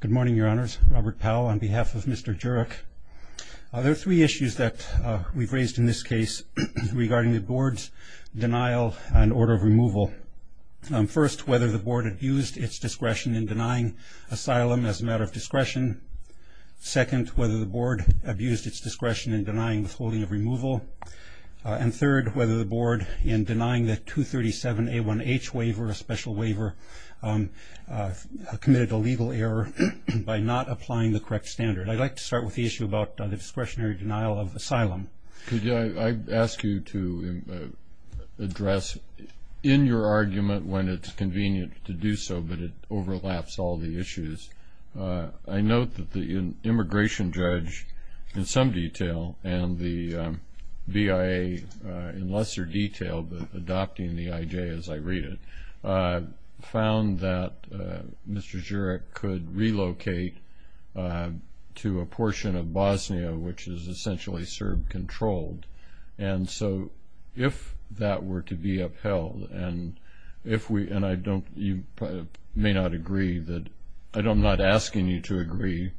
Good morning, Your Honors. Robert Powell on behalf of Mr. Djuric. There are three issues that we've raised in this case regarding the board's denial and order of removal. First, whether the board abused its discretion in denying asylum as a matter of discretion. Second, whether the board abused its discretion in denying withholding of removal. And third, whether the board in denying the 237 A1H waiver, a special waiver, committed a legal error by not applying the correct standard. I'd like to start with the issue about the discretionary denial of asylum. Could I ask you to address, in your argument, when it's convenient to do so, but it overlaps all the issues, I note that the immigration judge, in some detail, and the VIA, in lesser detail, but adopting the IJ as I read it, found that Mr. Djuric could relocate to a portion of Bosnia, which is essentially Serb-controlled. And so, if that were to be upheld, and if we, and I don't, you may not agree that, I'm not asking you to agree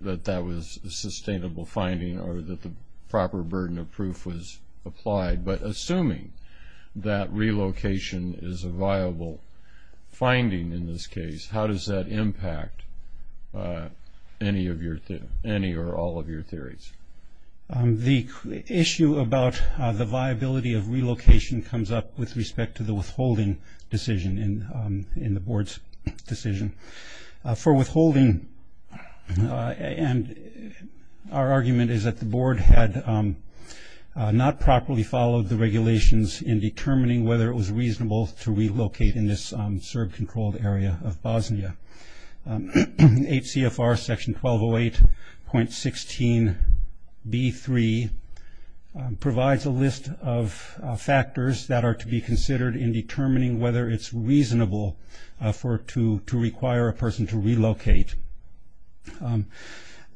that that was a sustainable finding or that the proper burden of proof was applied, but assuming that relocation is a viable finding in this case, how does that impact any of your, any or all of your theories? The issue about the viability of relocation comes up with respect to the withholding decision in the board's decision. For withholding, and our argument is that the board had not properly followed the regulations in determining whether it was reasonable to relocate in this Serb-controlled area of Bosnia. HCFR section 1208.16b3 provides a list of factors that are to be considered in determining whether it's reasonable for, to require a person to relocate.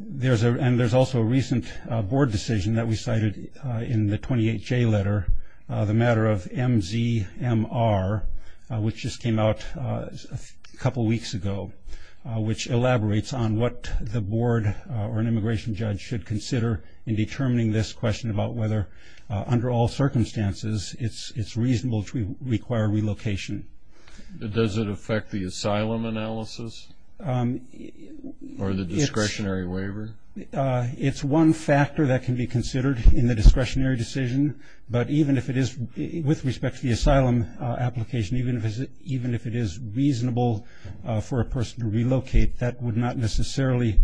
There's a, and there's also a recent board decision that we cited in the 28J letter, the matter of MZMR, which just came out a couple weeks ago, which elaborates on what the board or an immigration judge should consider in determining this question about whether, under all circumstances, it's reasonable to require relocation. Does it affect the asylum analysis or the discretionary waiver? It's one factor that can be considered in the discretionary decision, but even if it is, with respect to the asylum application, even if it is reasonable for a person to relocate, that would not necessarily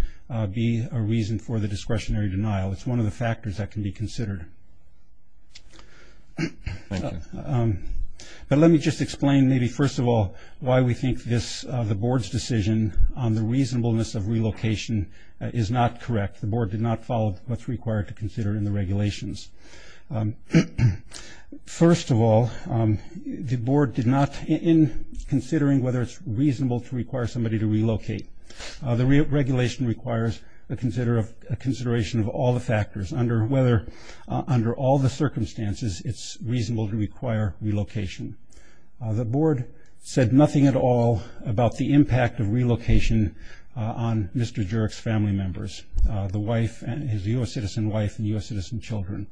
be a reason for the discretionary denial. It's one of the factors that can be considered. But let me just explain maybe, first of all, why we think this, the board's decision on the reasonableness of relocation is not correct. The board did not follow what's required to consider in the regulations. First of all, the board did not, in considering whether it's reasonable to require somebody to relocate, the regulation requires a consideration of all the factors, under whether, under all the circumstances, it's reasonable to require relocation. The board said nothing at all about the impact of relocation on Mr. Jurek's family members, the wife, his U.S. citizen wife and U.S. citizen children.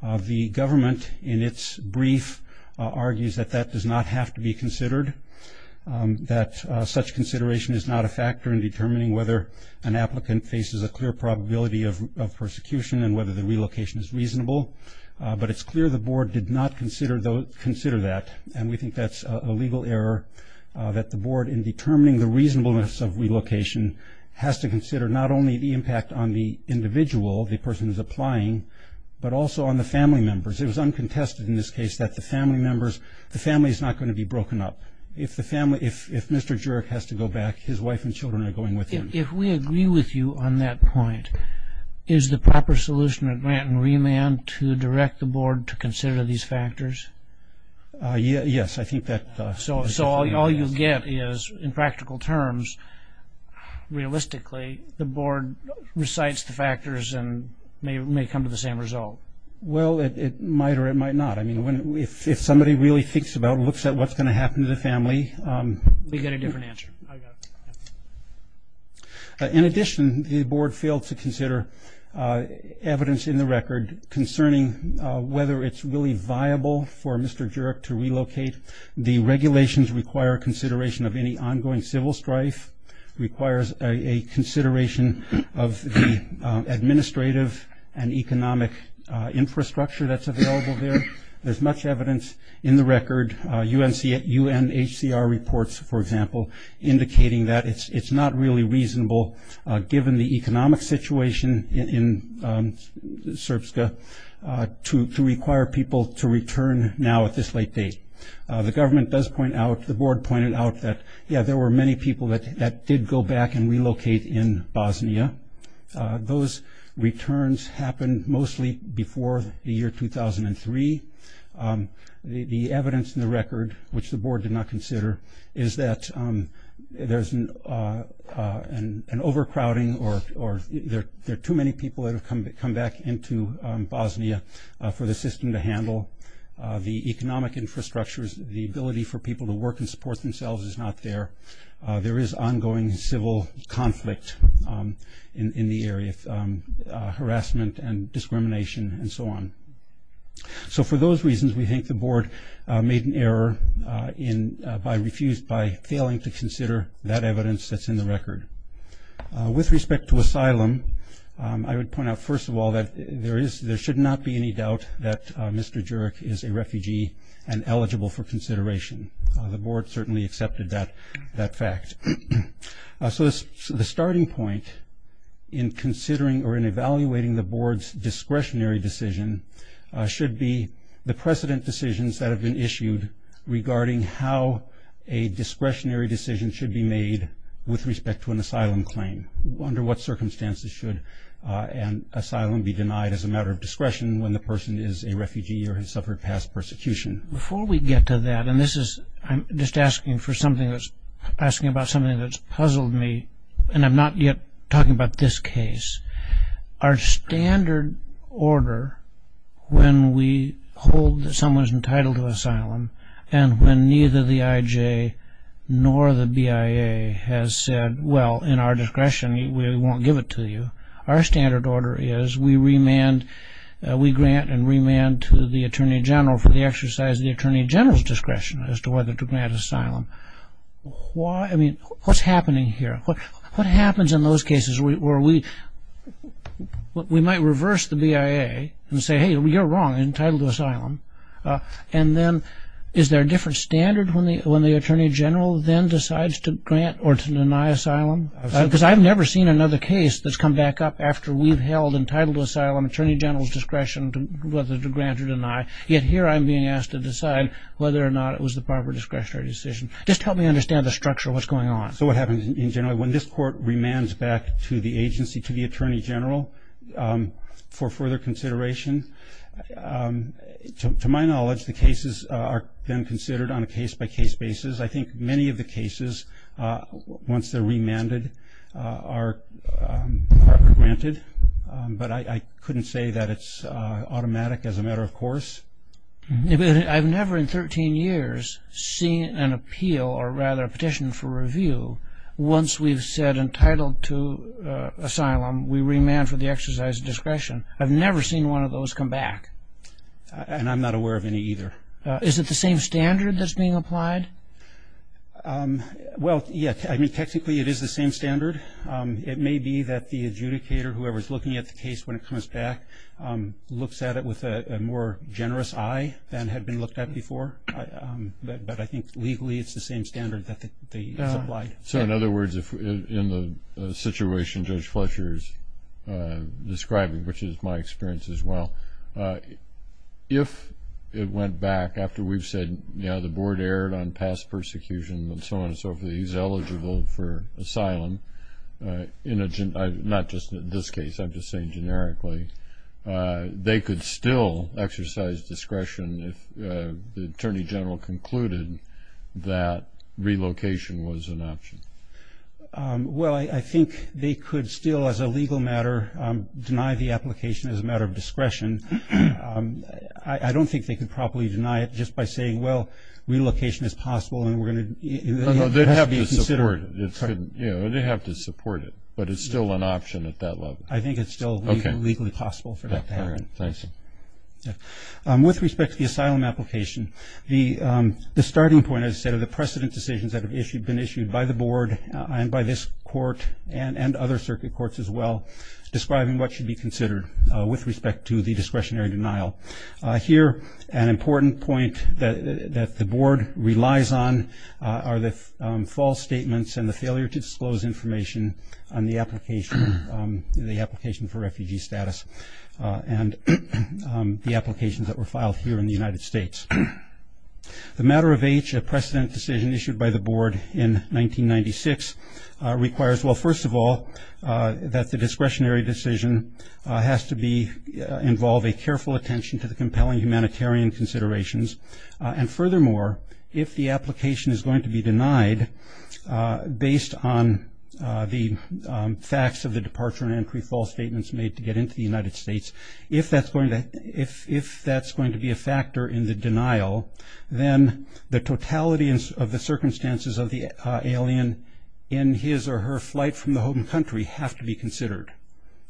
The government, in its brief, argues that that does not have to be considered, that such consideration is not a factor in determining whether an applicant faces a clear probability of persecution and whether the relocation is reasonable. But it's clear the board did not consider that, and we think that's a legal error that the board, in determining the reasonableness of relocation, has to consider not only the impact on the individual, the person who's applying, but also on the family members. It was uncontested in this case that the family members, the family's not going to be broken up. If the family, if Mr. Jurek has to go back, his wife and children are going with him. If we agree with you on that point, is the proper solution a grant and remand to direct the board to consider these factors? Yes, I think that's a good point. So all you'll get is, in practical terms, realistically, the board recites the factors and may come to the same result. Well, it might or it might not. I mean, if somebody really thinks about it, looks at what's going to happen to the family. We get a different answer. I got it. In addition, the board failed to consider evidence in the record concerning whether it's really viable for Mr. Jurek to relocate. The regulations require consideration of any ongoing civil strife, requires a consideration of the administrative and economic infrastructure that's available there. There's much evidence in the record, UNHCR reports, for example, indicating that it's not really reasonable, given the economic situation in Srpska, to require people to return now at this late date. The government does point out, the board pointed out that, yeah, there were many people that did go back and relocate in Bosnia. Those returns happened mostly before the year 2003. The evidence in the record, which the board did not consider, is that there's an overcrowding or there are too many people that have come back into Bosnia for the system to handle. The economic infrastructure, the ability for people to work and support themselves is not there. There is ongoing civil conflict in the area, harassment and discrimination and so on. So, for those reasons, we think the board made an error in, by refused, by failing to consider that evidence that's in the record. With respect to asylum, I would point out, first of all, that there is, there should not be any doubt that Mr. Jurek is a refugee and eligible for consideration. The board certainly accepted that fact. So, the starting point in considering or in evaluating the board's discretionary decision should be the precedent decisions that have been issued regarding how a discretionary decision should be made with respect to an asylum claim, under what circumstances should an asylum be denied as a matter of discretion when the person is a refugee or has suffered past persecution. Before we get to that, and this is, I'm just asking for something that's, asking about something that's puzzled me, and I'm not yet talking about this case. Our standard order when we hold that someone is entitled to asylum, and when neither the IJ nor the BIA has said, well, in our discretion we won't give it to you, our standard order is we remand, we grant and remand to the Attorney General for the exercise of the Attorney General's discretion as to whether to grant asylum. Why, I mean, what's happening here? What happens in those cases where we, we might reverse the BIA and say, hey, you're wrong, entitled to asylum, and then is there a different standard when the Attorney General then decides to grant or to deny asylum? Because I've never seen another case that's come back up after we've held entitled to asylum Attorney General's discretion whether to grant or deny, yet here I'm being asked to decide whether or not it was the proper discretionary decision. Just help me understand the structure of what's going on. So what happens in general, when this court remands back to the agency, to the Attorney General for further consideration, to my knowledge, the cases are then considered on a case-by-case basis. I think many of the cases, once they're remanded, are granted, but I couldn't say that it's automatic as a matter of course. I've never in 13 years seen an appeal, or rather a petition for review, once we've said entitled to asylum, we remand for the exercise of discretion. I've never seen one of those come back. And I'm not aware of any either. Is it the same standard that's being applied? Well, yes, I mean, technically it is the same standard. It may be that the adjudicator, whoever's looking at the case when it comes back, looks at it with a more generous eye than had been looked at before, but I think legally it's the same standard that they applied. So in other words, in the situation Judge Fletcher's describing, which is my experience as well, if it went back after we've said, you know, the board erred on past persecution and so on and so forth, he's eligible for asylum, not just in this case, I'm just saying generically, they could still exercise discretion if the Attorney General concluded that relocation was an option. Well, I think they could still, as a legal matter, deny the application as a matter of discretion. I don't think they could properly deny it just by saying, well, relocation is possible and we're going to, it has to be considered. It should, you know, they have to support it, but it's still an option at that level. I think it's still legally possible for that to happen. All right, thanks. With respect to the asylum application, the starting point, as I said, of the precedent decisions that have been issued by the board and by this court and other circuit courts as well, describing what should be considered with respect to the discretionary denial. Here, an important point that the board relies on are the false statements and the failure to disclose information on the application for refugee status and the applications that were filed here in the United States. The matter of age, a precedent decision issued by the board in 1996 requires, well, in addition to the compelling humanitarian considerations, and furthermore, if the application is going to be denied based on the facts of the departure and entry, false statements made to get into the United States, if that's going to be a factor in the denial, then the totality of the circumstances of the alien in his or her flight from the home country have to be considered.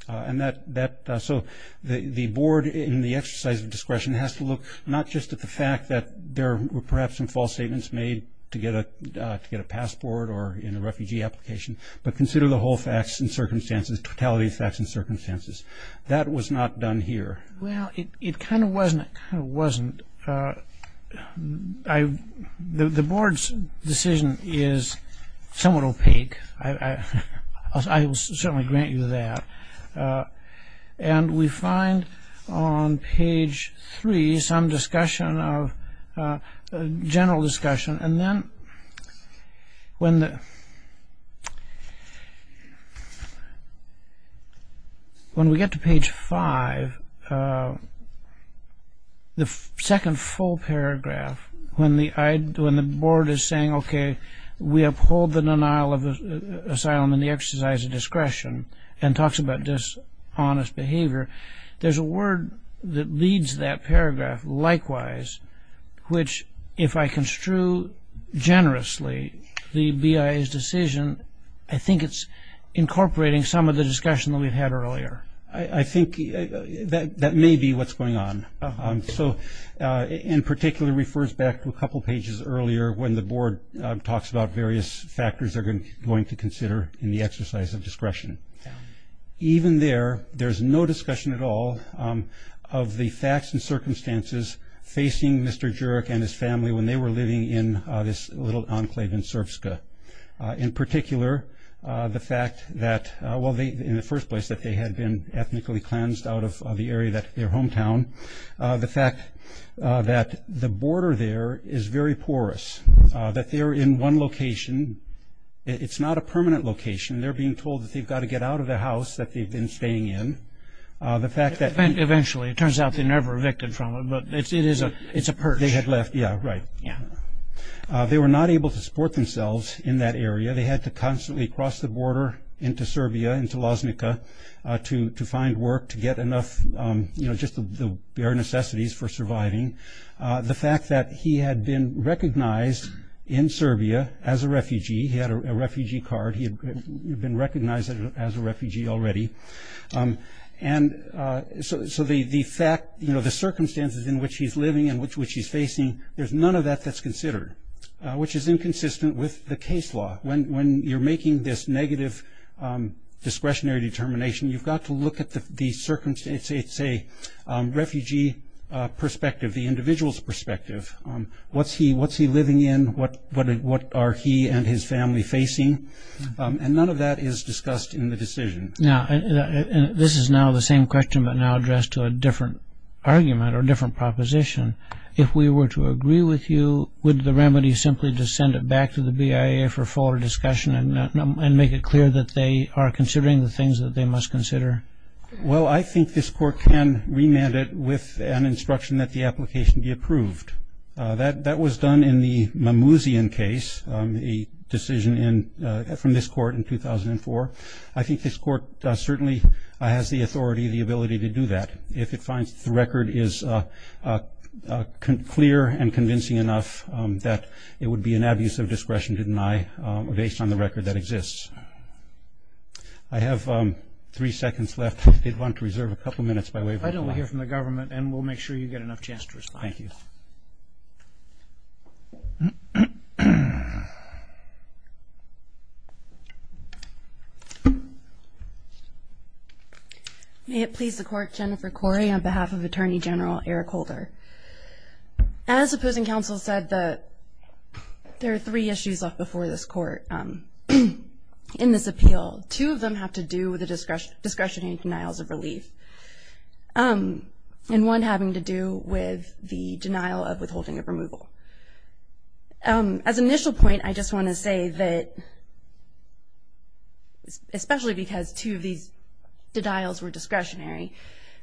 And that, so the board in the exercise of discretion has to look not just at the fact that there were perhaps some false statements made to get a passport or in a refugee application, but consider the whole facts and circumstances, totality of facts and circumstances. That was not done here. Well, it kind of wasn't. The board's decision is somewhat opaque. I will certainly grant you that. And we find on page three some discussion of, general discussion. And then when we get to page five, the second full paragraph, when the board is saying, okay, we uphold the denial of asylum in the exercise of discretion and talks about dishonest behavior, there's a word that leads that paragraph, likewise, which, if I construe generously, the BIA's decision, I think it's incorporating some of the discussion that we've had earlier. I think that may be what's going on. So, in particular, refers back to a couple pages earlier when the board talks about various factors they're going to consider in the exercise of discretion. Even there, there's no discussion at all of the facts and circumstances facing Mr. Jurek and his family when they were living in this little enclave in Srpska. In particular, the fact that, well, in the first place, that they had been ethnically cleansed out of the area that their hometown, the fact that the border there is very porous, that they're in one location, it's not a permanent location, they're being told that they've got to get out of the house that they've been staying in, the fact that- Eventually, it turns out they never evicted from it, but it's a perch. They had left, yeah, right. Yeah. They were not able to support themselves in that area. They had to constantly cross the border into Serbia, into Loznica, to find work, to get enough, you know, just the bare necessities for surviving. The fact that he had been recognized in Serbia as a refugee. He had a refugee card. He had been recognized as a refugee already. And so the fact, you know, the circumstances in which he's living and which he's facing, there's none of that that's considered, which is inconsistent with the case law. When you're making this negative discretionary determination, you've got to look at the circumstances, say, refugee perspective, the individual's perspective. What's he living in? What are he and his family facing? And none of that is discussed in the decision. Now, this is now the same question, but now addressed to a different argument or different proposition. If we were to agree with you, would the remedy simply to send it back to the BIA for further discussion and make it clear that they are considering the things that they must consider? Well, I think this court can remand it with an instruction that the application be approved. That was done in the Mamouzian case, a decision from this court in 2004. I think this court certainly has the authority, the ability to do that. If it finds the record is clear and convincing enough that it would be an abuse of discretion to deny based on the record that exists. I have three seconds left. If you'd want to reserve a couple minutes by waiving the clock. I don't want to hear from the government, and we'll make sure you get enough chance to respond. Thank you. May it please the court. Jennifer Corey on behalf of Attorney General Eric Holder. As opposing counsel said, there are three issues before this court. In this appeal, two of them have to do with the discretionary denials of relief. And one having to do with the denial of withholding of removal. As an initial point, I just want to say that, especially because two of these denials were discretionary,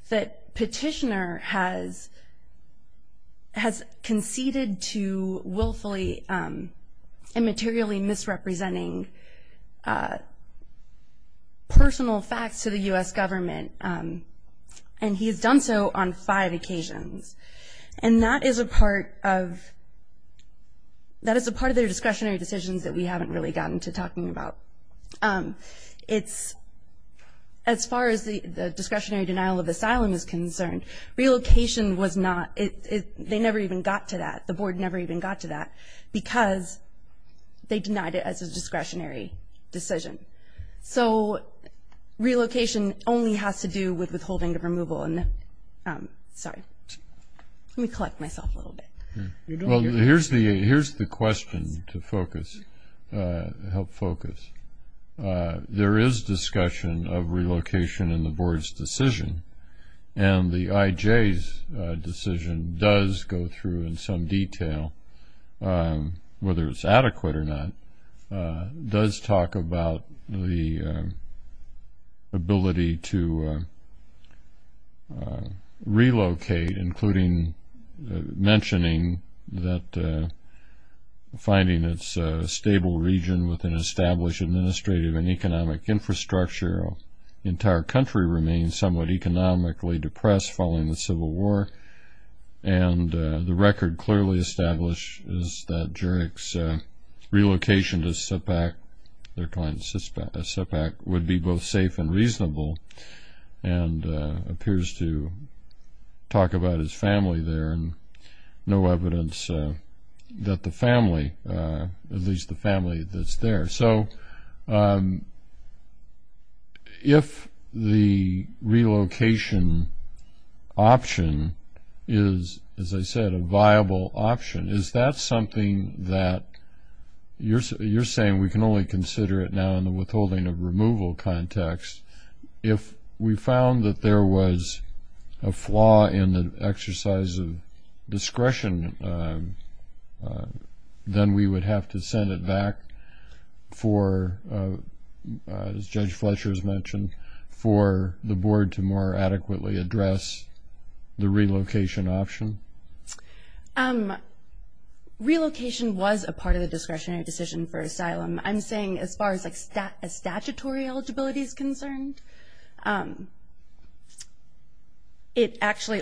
that petitioner has conceded to willfully and materially misrepresenting personal facts to the U.S. government. And he has done so on five occasions. And that is a part of, that is a part of their discretionary decisions that we haven't really gotten to talking about. It's, as far as the discretionary denial of asylum is concerned, relocation was not, it, they never even got to that. The board never even got to that. Because they denied it as a discretionary decision. So, relocation only has to do with withholding of removal. And, sorry, let me collect myself a little bit. Well, here's the, here's the question to focus, help focus. There is discussion of relocation in the board's decision. And the IJ's decision does go through in some detail. Whether it's adequate or not, does talk about the ability to relocate, including mentioning that finding it's a stable region with an established administrative and economic infrastructure. The entire country remains somewhat economically depressed following the Civil War. And the record clearly establishes that Jurek's relocation to Sepak, their client Sepak, would be both safe and reasonable. And appears to talk about his family there. And no evidence that the family, at least the family that's there. So, if the relocation option is, as I said, a viable option. Is that something that, you're saying we can only consider it now in the withholding of removal context. If we found that there was a flaw in the exercise of discretion, then we would have to send it back for, as Judge Fletcher has mentioned, for the board to more adequately address the relocation option? Relocation was a part of the discretionary decision for asylum. I'm saying as far as like a statutory eligibility is concerned, it actually,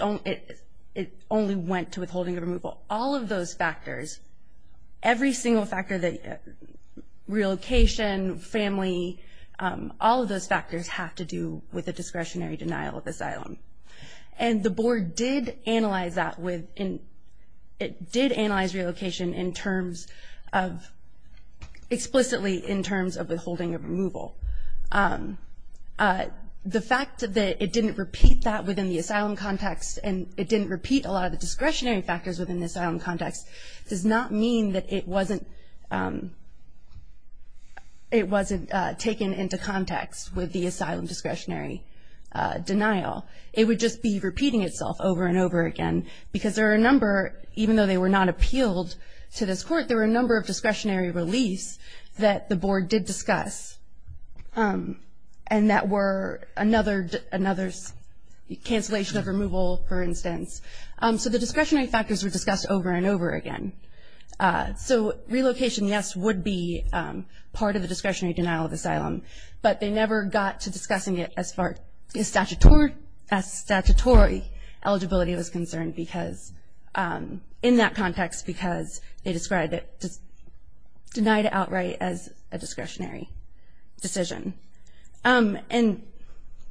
it only went to withholding of removal. All of those factors, every single factor that relocation, family, all of those factors have to do with a discretionary denial of asylum. And the board did analyze that with, it did analyze relocation in terms of, explicitly in terms of withholding of removal. The fact that it didn't repeat that within the asylum context, and it didn't repeat a lot of the discretionary factors within the asylum context, does not mean that it wasn't, it wasn't taken into context with the asylum discretionary denial. It would just be repeating itself over and over again. Because there are a number, even though they were not appealed to this court, there were a number of discretionary reliefs that the board did discuss. And that were another, another cancellation of removal, for instance. So the discretionary factors were discussed over and over again. So relocation, yes, would be part of the discretionary denial of asylum. But they never got to discussing it as far as statutory eligibility was concerned, because, in that context, because they described it, just denied it outright as a discretionary decision. And.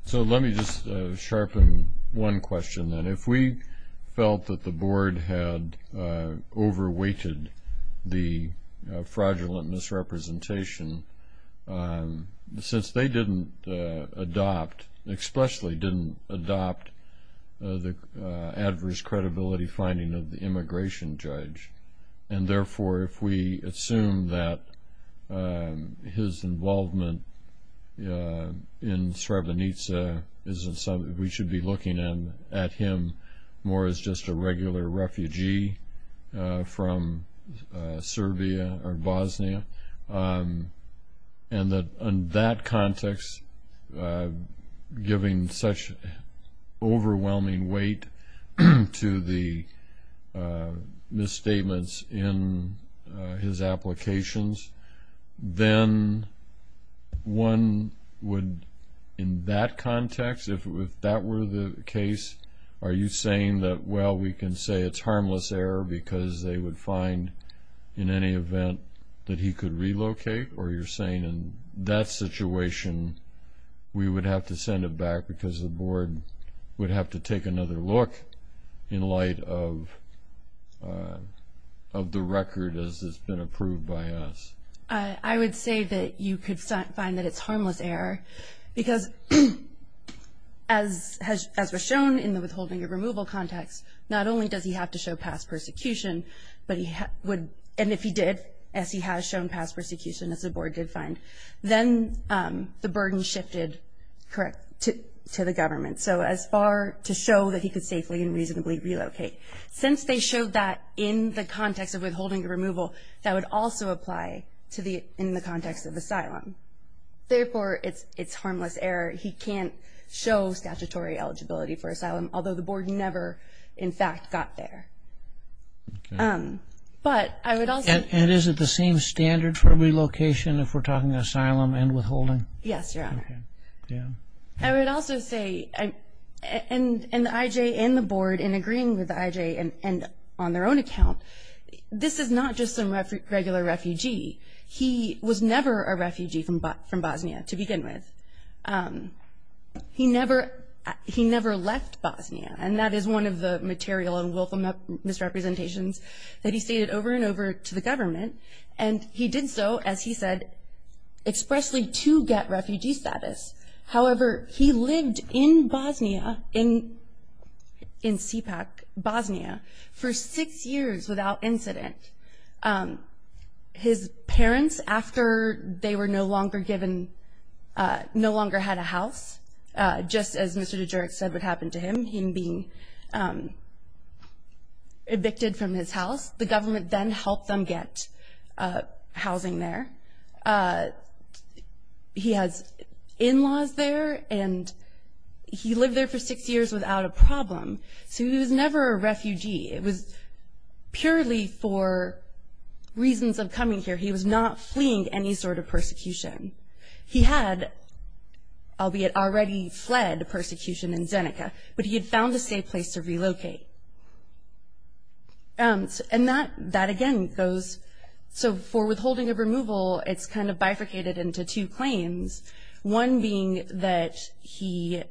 So let me just sharpen one question then. If we felt that the board had over-weighted the fraudulent misrepresentation, since they didn't adopt, expressly didn't adopt the adverse credibility finding of the immigration judge, and therefore if we assume that his involvement in Srebrenica isn't something we should be looking at him more as just a regular refugee from Serbia or Bosnia, and that, in that context, giving such overwhelming weight to the misstatements in his applications, then one would, in that context, if that were the case, are you saying that, well, we can say it's harmless error because they would find in any event that he could relocate? Or you're saying in that situation, we would have to send it back because the board would have to take another look in light of the record as it's been approved by us? I would say that you could find that it's harmless error because as was shown in the withholding of removal context, not only does he have to show past persecution, but he would, and if he did, as he has shown past persecution, as the board did find, then the burden shifted to the government. So as far to show that he could safely and reasonably relocate. Since they showed that in the context of withholding the removal, that would also apply to the, in the context of asylum. Therefore, it's harmless error. He can't show statutory eligibility for asylum, although the board never, in fact, got there. But I would also. And is it the same standard for relocation if we're talking asylum and withholding? Yes, Your Honor. Yeah. I would also say, and the IJ and the board in agreeing with the IJ and on their own account, this is not just some regular refugee. He was never a refugee from Bosnia to begin with. He never left Bosnia, and that is one of the material and willful misrepresentations that he stated over and over to the government. And he did so, as he said, expressly to get refugee status. However, he lived in Bosnia, in Sipak, Bosnia, for six years without incident. His parents, after they were no longer given, no longer had a house, just as Mr. DeJurek said would happen to him, him being evicted from his house, the government then helped them get housing there. He has in-laws there, and he lived there for six years without a problem. So he was never a refugee. It was purely for reasons of coming here. He was not fleeing any sort of persecution. He had, albeit already fled persecution in Zeneca, but he had found a safe place to relocate. And that, again, goes, so for withholding of removal, it's kind of bifurcated into two claims, one being that he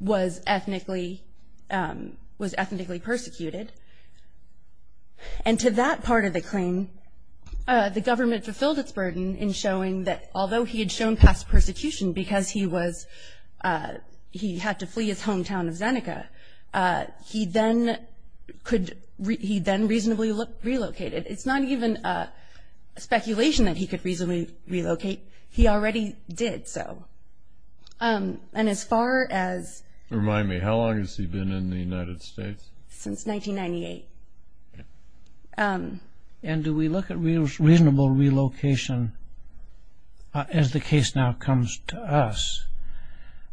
was ethnically persecuted. And to that part of the claim, the government fulfilled its burden in showing that although he had shown past persecution because he was, he had to flee his hometown of Zeneca, he then could, he then reasonably relocated. It's not even a speculation that he could reasonably relocate, he already did so. And as far as. Remind me, how long has he been in the United States? Since 1998. And do we look at reasonable relocation, as the case now comes to us,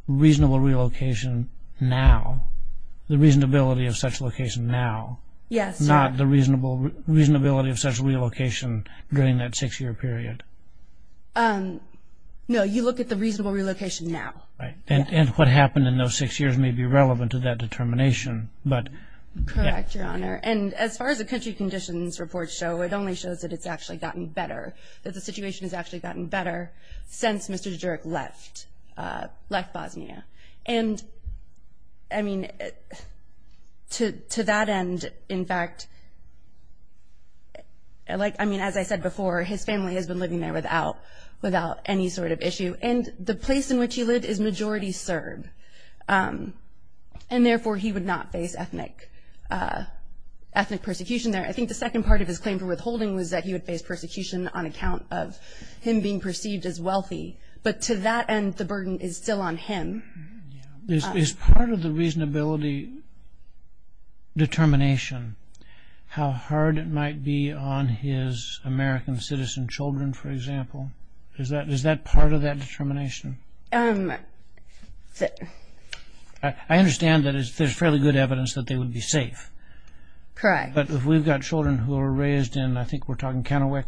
reasonable relocation now, the reasonability of such location now. Yes. Not the reasonability of such relocation during that six-year period. No, you look at the reasonable relocation now. Right. And what happened in those six years may be relevant to that determination, but. Correct, Your Honor. And as far as the country conditions report show, it only shows that it's actually gotten better, that the situation has actually gotten better since Mr. Djuric left, left Bosnia. And I mean, to that end, in fact, like, I mean, as I said before, his family has been living there without, without any sort of issue. And the place in which he lived is majority Serb. And therefore, he would not face ethnic, ethnic persecution there. I think the second part of his claim for withholding was that he would face persecution on account of him being perceived as wealthy. But to that end, the burden is still on him. Is part of the reasonability determination how hard it might be on his American citizen children, for example? Is that, is that part of that determination? I understand that there's fairly good evidence that they would be safe. Correct. But if we've got children who are raised in, I think we're talking Kennewick.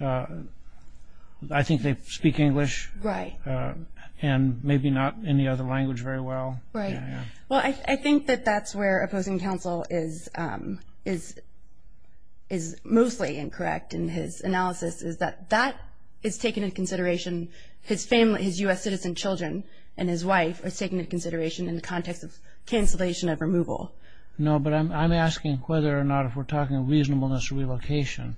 I think they speak English. Right. And maybe not any other language very well. Right. Well, I think that that's where opposing counsel is, is, is mostly incorrect in his analysis is that that is taken into consideration. His family, his U.S. citizen children and his wife are taken into consideration in the context of cancellation of removal. No, but I'm, I'm asking whether or not if we're talking reasonableness or relocation.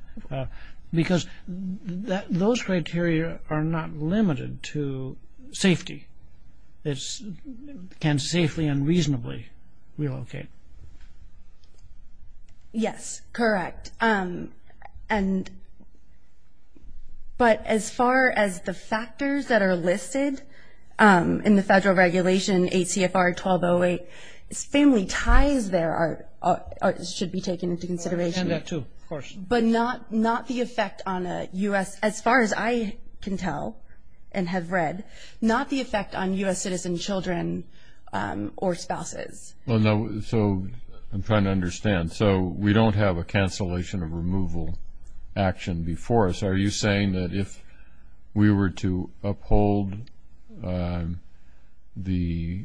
Because that, those criteria are not limited to safety. It's, can safely and reasonably relocate. Yes, correct. And, but as far as the factors that are listed in the federal regulation ACFR 1208, it's family ties there are, should be taken into consideration. And that too, of course. But not, not the effect on a U.S., as far as I can tell and have read, not the effect on U.S. citizen children or spouses. Well, no, so I'm trying to understand. So we don't have a cancellation of removal action before us. Are you saying that if we were to uphold the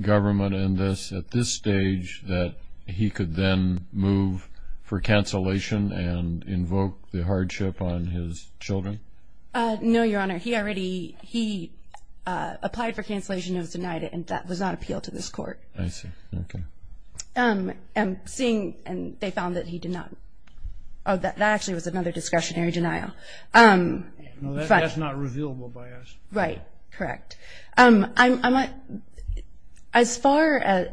government in this, at this stage, that he could then move for cancellation and invoke the hardship on his children? No, Your Honor. He already, he applied for cancellation and was denied it. And that was not appealed to this court. I see. Okay. And seeing, and they found that he did not, oh, that actually was another discretionary denial. No, that's not revealable by us. Right. Correct. I'm, as far as,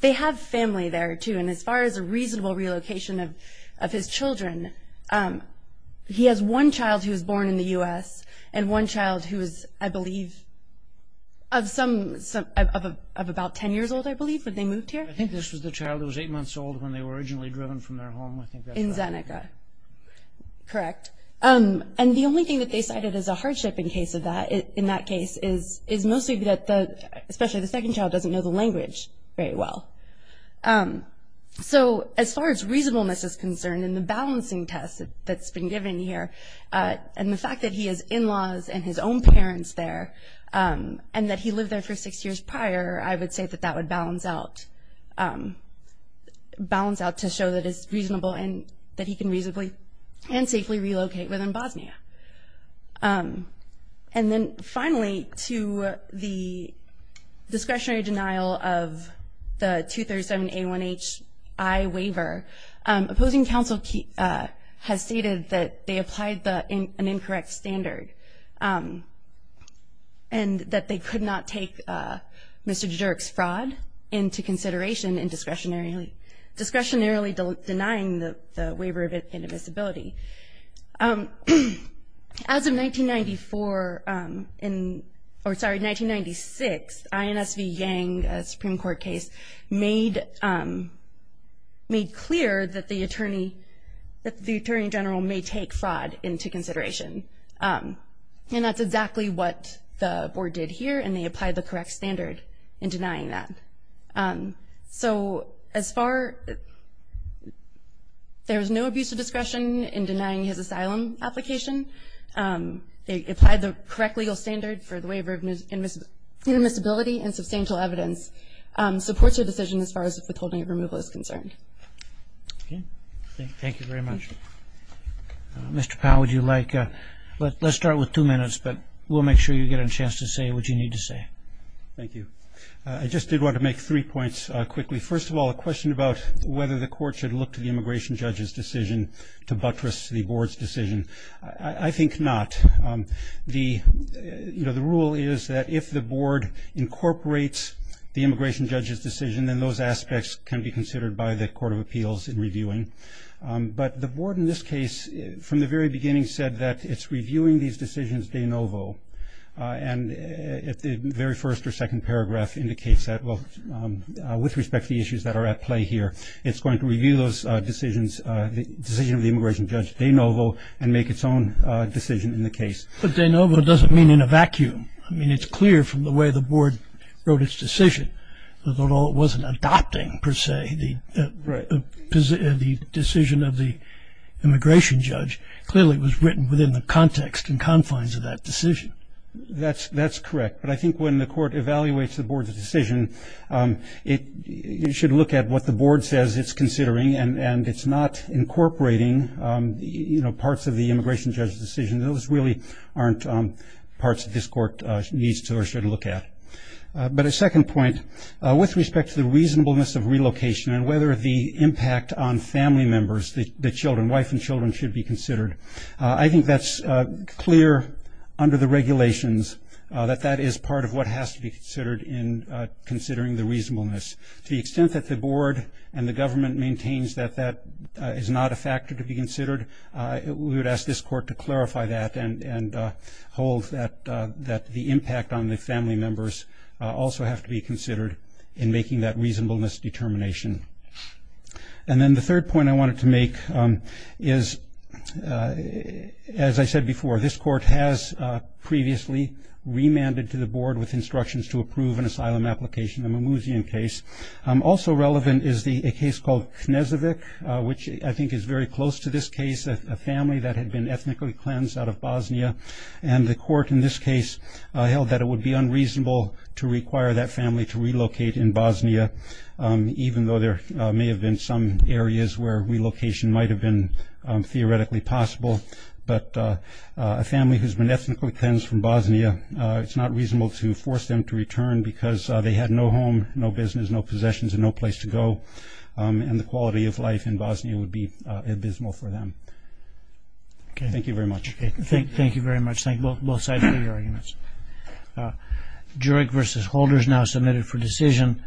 they have family there too. And as far as a reasonable relocation of his children, he has one child who was born in the U.S. and one child who is, I believe, of some, of about 10 years old, I believe, when they moved here. I think this was the child who was eight months old when they were originally driven from their home. In Zeneca. Correct. And the only thing that they cited as a hardship in case of that, in that case, is mostly that the, especially the second child, doesn't know the language very well. So, as far as reasonableness is concerned and the balancing test that's been given here, and the fact that he has in-laws and his own parents there, and that he lived there for six years prior, I would say that that would balance out, balance out to show that it's reasonable and that he can reasonably and safely relocate within Bosnia. And then, finally, to the discretionary denial of the 237 A1HI waiver, opposing counsel has stated that they applied an incorrect standard and that they could not take Mr. Jiduric's fraud into consideration in discretionarily denying the waiver of inadmissibility. As of 1994, or sorry, 1996, INSV Yang, a Supreme Court case, made clear that the attorney, that the attorney general may take fraud into consideration. And that's exactly what the board did here, and they applied the correct standard in denying that. So, as far, there's no abuse of discretion in denying his asylum application. They applied the correct legal standard for the waiver of inadmissibility and substantial evidence supports their decision as far as withholding removal is concerned. Okay. Thank you very much. Mr. Powell, would you like, let's start with two minutes, but we'll make sure you get a chance to say what you need to say. Thank you. I just did want to make three points quickly. First of all, a question about whether the court should look to the immigration judge's decision to buttress the board's decision. I think not. The, you know, the rule is that if the board incorporates the immigration judge's decision, then those aspects can be considered by the Court of Appeals in reviewing. But the board in this case, from the very beginning, said that it's reviewing these decisions de novo. And the very first or second paragraph indicates that, well, with respect to the issues that are at play here, it's going to review those decisions, the decision of the immigration judge de novo, and make its own decision in the case. But de novo doesn't mean in a vacuum. I mean, it's clear from the way the board wrote its decision that although it wasn't adopting, per se, the decision of the immigration judge, clearly it was written within the context and confines of that decision. That's correct. But I think when the court evaluates the board's decision, it should look at what the board says it's considering. And it's not incorporating, you know, parts of the immigration judge's decision. Those really aren't parts that this court needs to or should look at. But a second point, with respect to the reasonableness of relocation and whether the impact on family members, the children, wife and children, should be considered. I think that's clear under the regulations that that is part of what has to be considered in considering the reasonableness. To the extent that the board and the government maintains that that is not a factor to be considered, we would ask this court to clarify that and hold that the impact on the family members also have to be considered in making that reasonableness determination. And then the third point I wanted to make is, as I said before, this court has previously remanded to the board with instructions to approve an asylum application, a Mimouzian case. Also relevant is a case called Knezovic, which I think is very close to this case, a family that had been ethnically cleansed out of Bosnia. And the court in this case held that it would be unreasonable to require that family to relocate in Bosnia, even though there may have been some areas where relocation might have been theoretically possible. But a family who's been ethnically cleansed from Bosnia, it's not reasonable to force them to return because they had no home, no business, no possessions and no place to go. And the quality of life in Bosnia would be abysmal for them. Thank you very much. Thank you very much. Thank you both sides for your arguments. Jurek v. Holder is now submitted for decision.